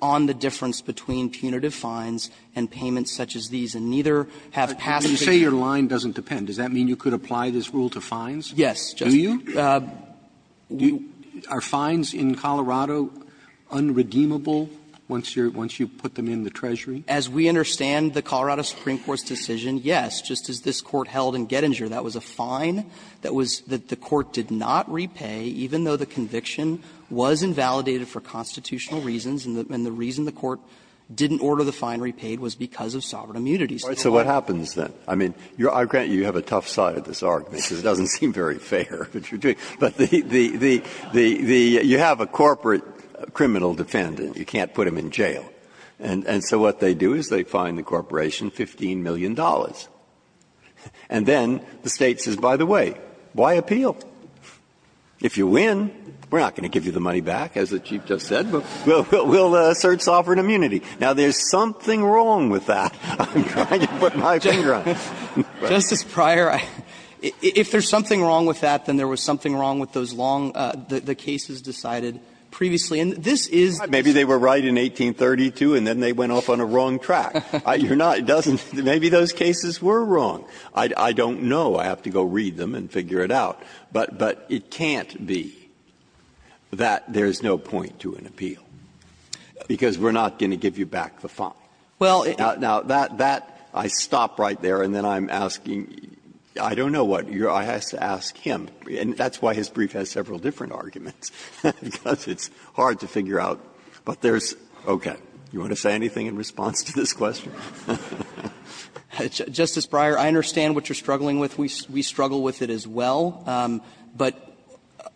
on the difference between punitive fines and payments such as these, and neither have past cases. Roberts, you say your line doesn't depend. Does that mean you could apply this rule to fines? Yes, Justice. Do you? Are fines in Colorado unredeemable once you're – once you put them in the treasury? As we understand the Colorado Supreme Court's decision, yes. Just as this Court held in Gettinger, that was a fine that was – that the Court did not repay, even though the conviction was invalidated for constitutional reasons, and the reason the Court didn't order the fine repaid was because of sovereign immunity. Breyer, so what happens then? I mean, I grant you have a tough side to this argument, because it doesn't seem very fair what you're doing. But the – you have a corporate criminal defendant, you can't put him in jail. And so what they do is they fine the corporation $15 million, and then the State says, by the way, why appeal? If you win, we're not going to give you the money back, as the Chief just said. We'll assert sovereign immunity. Now, there's something wrong with that. I'm trying to put my finger on it. Justice Breyer, if there's something wrong with that, then there was something wrong with those long – the cases decided previously. And this is the Supreme Court's decision. Maybe they were right in 1832, and then they went off on a wrong track. You're not – it doesn't – maybe those cases were wrong. I don't know. I have to go read them and figure it out. But it can't be that there's no point to an appeal, because we're not going to give you back the fine. Now, that – I stop right there, and then I'm asking – I don't know what you're – I have to ask him. And that's why his brief has several different arguments, because it's hard to figure out. But there's – okay. You want to say anything in response to this question? Justice Breyer, I understand what you're struggling with. We struggle with it as well. But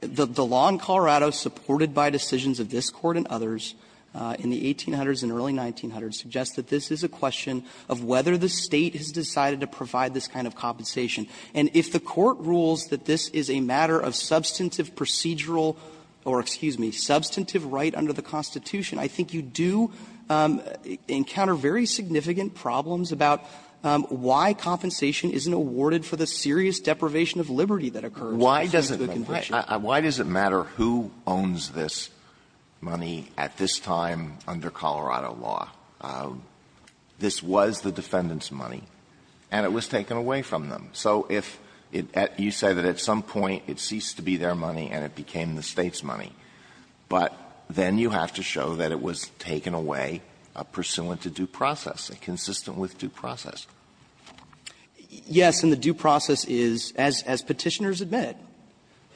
the law in Colorado, supported by decisions of this Court and others in the 1800s and early 1900s, suggests that this is a question of whether the State has decided to provide this kind of compensation. And if the Court rules that this is a matter of substantive procedural – or, excuse me, substantive right under the Constitution, I think you do encounter very significant problems about why compensation isn't awarded for the serious deprivation of liberty that occurs under the Constitution. Alito, why does it matter who owns this money at this time under Colorado law? This was the defendant's money, and it was taken away from them. So if it – you say that at some point it ceased to be their money and it became the State's money. But then you have to show that it was taken away pursuant to due process. Consistent with due process. Yes, and the due process is, as Petitioners admit,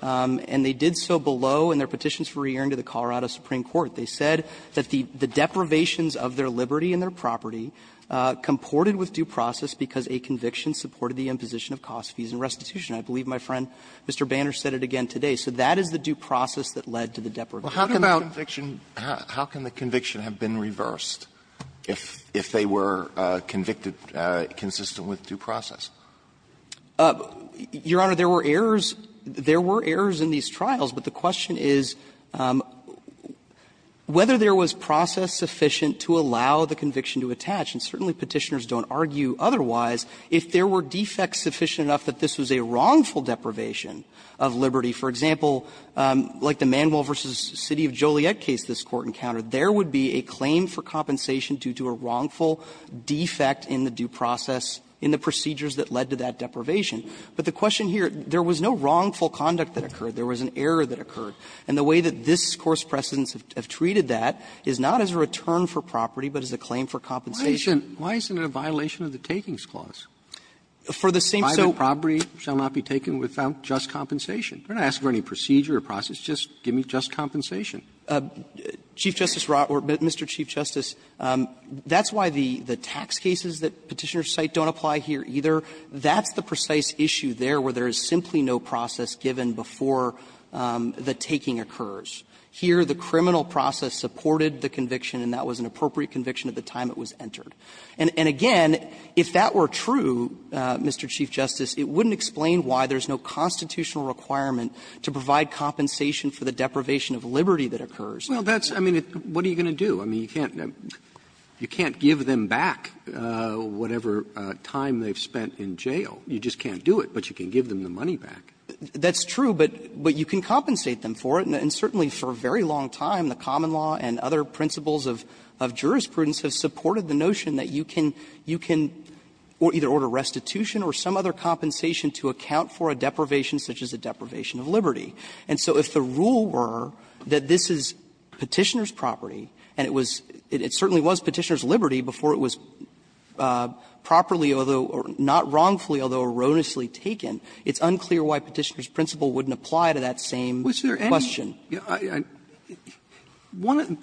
and they did so below in their petitions for re-hearing to the Colorado Supreme Court, they said that the deprivations of their liberty and their property comported with due process because a conviction supported the imposition of cost fees and restitution. I believe my friend Mr. Banner said it again today. So that is the due process that led to the deprivation. Alito, how can a conviction – how can the conviction have been reversed if they were convicted consistent with due process? Your Honor, there were errors – there were errors in these trials, but the question is whether there was process sufficient to allow the conviction to attach, and certainly Petitioners don't argue otherwise, if there were defects sufficient enough that this was a wrongful deprivation of liberty. For example, like the Manuel v. City of Joliet case this Court encountered, there would be a claim for compensation due to a wrongful defect in the due process in the procedures that led to that deprivation. But the question here, there was no wrongful conduct that occurred. There was an error that occurred. And the way that this Court's precedents have treated that is not as a return for property, but as a claim for compensation. Robertson, why isn't it a violation of the Takings Clause? For the same sole property shall not be taken without just compensation. If you're going to ask for any procedure or process, just give me just compensation. Chief Justice Rottweiler, Mr. Chief Justice, that's why the tax cases that Petitioners cite don't apply here either. That's the precise issue there where there is simply no process given before the taking occurs. Here, the criminal process supported the conviction, and that was an appropriate conviction at the time it was entered. And again, if that were true, Mr. Chief Justice, it wouldn't explain why there's no constitutional requirement to provide compensation for the deprivation of liberty that occurs. Robertson, I mean, what are you going to do? I mean, you can't give them back whatever time they've spent in jail. You just can't do it, but you can give them the money back. That's true, but you can compensate them for it. And certainly for a very long time, the common law and other principles of jurisprudence have supported the notion that you can either order restitution or some other compensation to account for a deprivation such as a deprivation of liberty. And so if the rule were that this is Petitioner's property, and it was – it certainly was Petitioner's liberty before it was properly, although – or not wrongfully, although erroneously taken, it's unclear why Petitioner's principle wouldn't apply to that same question. Robertson, was there any – one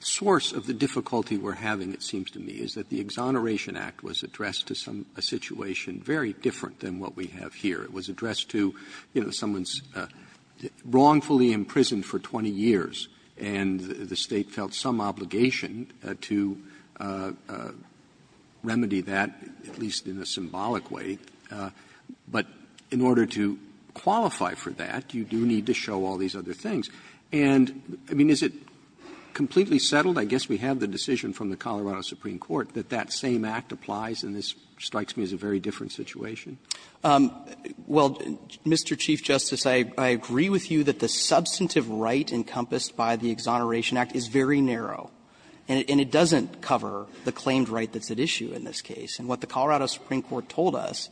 source of the difficulty we're having, it seems to me, is that the Exoneration Act was addressed to some – a situation very different than what we have here. It was addressed to, you know, someone wrongfully imprisoned for 20 years, and the State felt some obligation to remedy that, at least in a symbolic way. But in order to qualify for that, you do need to show all these other things. And, I mean, is it completely settled? I guess we have the decision from the Colorado Supreme Court that that same act applies, and this strikes me as a very different situation. Well, Mr. Chief Justice, I agree with you that the substantive right encompassed by the Exoneration Act is very narrow, and it doesn't cover the claimed right that's at issue in this case. And what the Colorado Supreme Court told us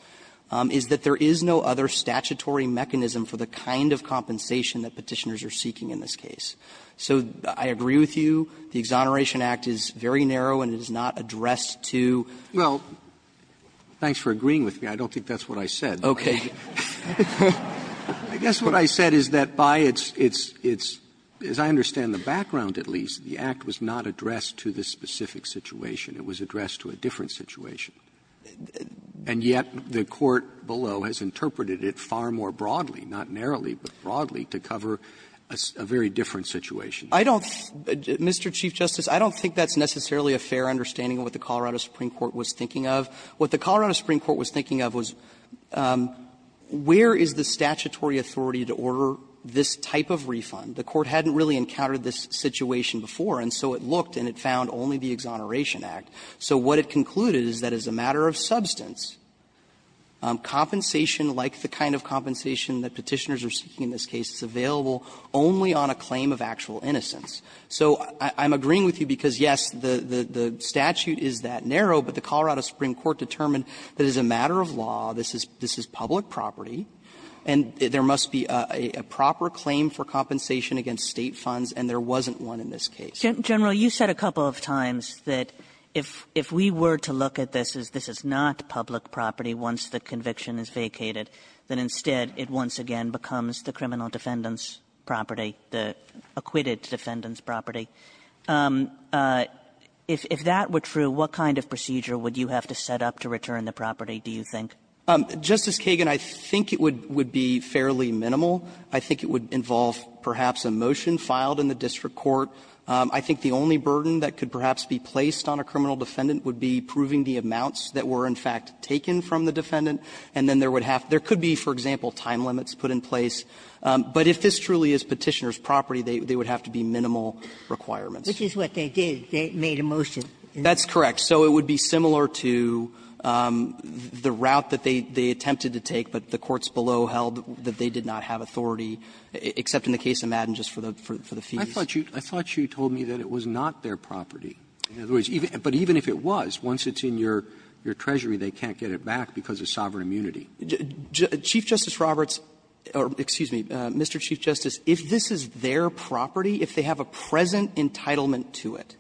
is that there is no other statutory mechanism for the kind of compensation that Petitioners are seeking in this case. So I agree with you, the Exoneration Act is very narrow, and it is not addressed to the State. Roberts Thanks for agreeing with me. I don't think that's what I said. Roberts Okay. Roberts I guess what I said is that by its — its — as I understand the background, at least, the act was not addressed to this specific situation. It was addressed to a different situation. And yet the Court below has interpreted it far more broadly, not narrowly, but broadly, to cover a very different situation. I don't — Mr. Chief Justice, I don't think that's necessarily a fair understanding of what the Colorado Supreme Court was thinking of. What the Colorado Supreme Court was thinking of was where is the statutory authority to order this type of refund? The Court hadn't really encountered this situation before, and so it looked and it found only the Exoneration Act. So what it concluded is that as a matter of substance, compensation like the kind of compensation that Petitioners are seeking in this case is available only on a claim of actual innocence. So I'm agreeing with you because, yes, the statute is that narrow, but the Colorado Supreme Court determined that as a matter of law, this is public property, and there must be a proper claim for compensation against State funds, and there wasn't one in this case. Kagan General, you said a couple of times that if we were to look at this as this is not public property once the conviction is vacated, then instead it once again becomes the criminal defendant's property, the acquitted defendant's property. If that were true, what kind of procedure would you have to set up to return the property, do you think? Justice Kagan, I think it would be fairly minimal. I think it would involve perhaps a motion filed in the district court. I think the only burden that could perhaps be placed on a criminal defendant would be proving the amounts that were in fact taken from the defendant, and then there could be, for example, time limits put in place. But if this truly is Petitioner's property, they would have to be minimal requirements. Ginsburg Which is what they did. They made a motion. Justice Kagan That's correct. So it would be similar to the route that they attempted to take, but the courts below held that they did not have authority, except in the case of Madden, just for the fees. Roberts I thought you told me that it was not their property. In other words, but even if it was, once it's in your treasury, they can't get it back because of sovereign immunity. Kagan Chief Justice Roberts or excuse me, Mr. Chief Justice, if this is their property, if they have a present entitlement to it,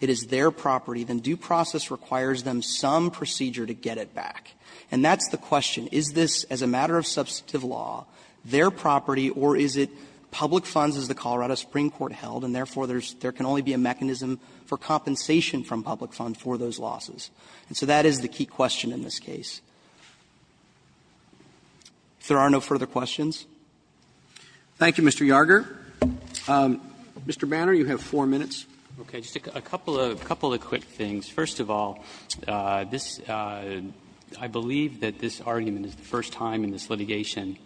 it is their property, then due process requires them some procedure to get it back. And that's the question. Is this, as a matter of substantive law, their property, or is it public funds, as the Colorado Supreme Court held, and therefore, there can only be a mechanism for compensation from public fund for those losses? And so that is the key question in this case. If there are no further questions. Roberts Thank you, Mr. Yarger. Mr. Banner, you have four minutes. Banner Okay. Just a couple of quick things. First of all, this – I believe that this argument is the first time in this litigation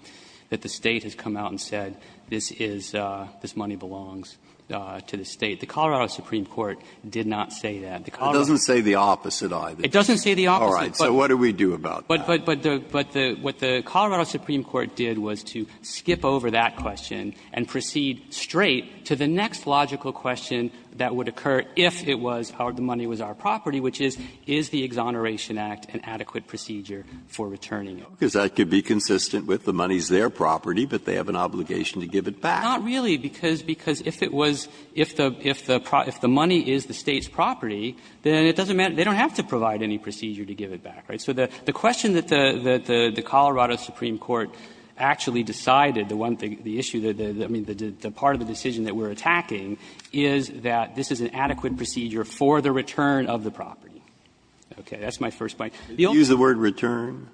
that the State has come out and said this is – this money belongs to the State. The Colorado Supreme Court did not say that. The Colorado Justice It doesn't say the opposite, either. Banner It doesn't say the opposite. Justice Breyer All right. So what do we do about that? Banner But the – but the – what the Colorado Supreme Court did was to skip over that question and proceed straight to the next logical question that would occur if it was our – the money was our property, which is, is the Exoneration Act an adequate procedure for returning it? Justice Breyer Because that could be consistent with the money's their property, but they have an obligation to give it back. Banner And it doesn't – they don't have to provide any procedure to give it back, right? So the question that the Colorado Supreme Court actually decided, the one thing – the issue, I mean, the part of the decision that we're attacking is that this is an adequate procedure for the return of the property. Okay. That's my first point. The only thing – Breyer Did you use the word return?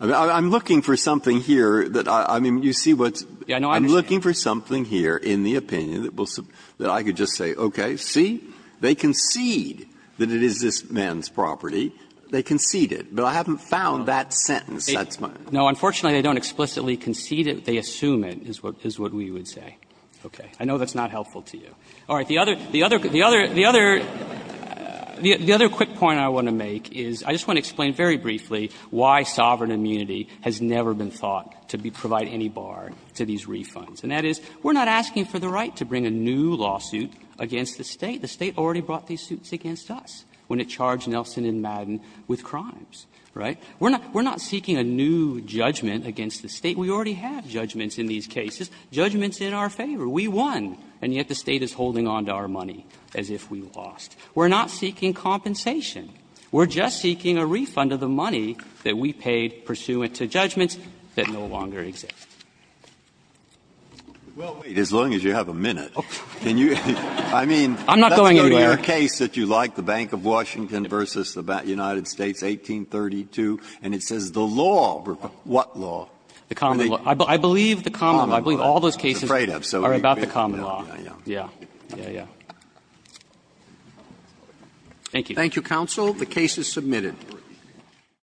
I'm looking for something here that – I mean, you see what's – Banner Yeah, no, I understand. Breyer I'm looking for something here in the opinion that will – that I could just say, okay, see? They concede that it is this man's property. They concede it. But I haven't found that sentence. That's my – Banner No, unfortunately, they don't explicitly concede it. They assume it, is what we would say. Okay. I know that's not helpful to you. All right. The other – the other – the other – the other quick point I want to make is I just want to explain very briefly why sovereign immunity has never been thought to be – provide any bar to these refunds. And that is, we're not asking for the right to bring a new lawsuit against the State. The State already brought these suits against us when it charged Nelson and Madden with crimes, right? We're not – we're not seeking a new judgment against the State. We already have judgments in these cases, judgments in our favor. We won, and yet the State is holding on to our money as if we lost. We're not seeking compensation. We're just seeking a refund of the money that we paid pursuant to judgments that no longer exist. Breyer Well, wait. As long as you have a minute, can you – I mean, that's the point. If you go to your case that you like, the Bank of Washington v. the United States, 1832, and it says the law, what law? Feigin The common law. I believe the common law. I believe all those cases are about the common law. Breyer I'm afraid of, so you can – yeah, yeah, yeah. Feigin Yeah, yeah, yeah. Thank you. Roberts Thank you, counsel. The case is submitted.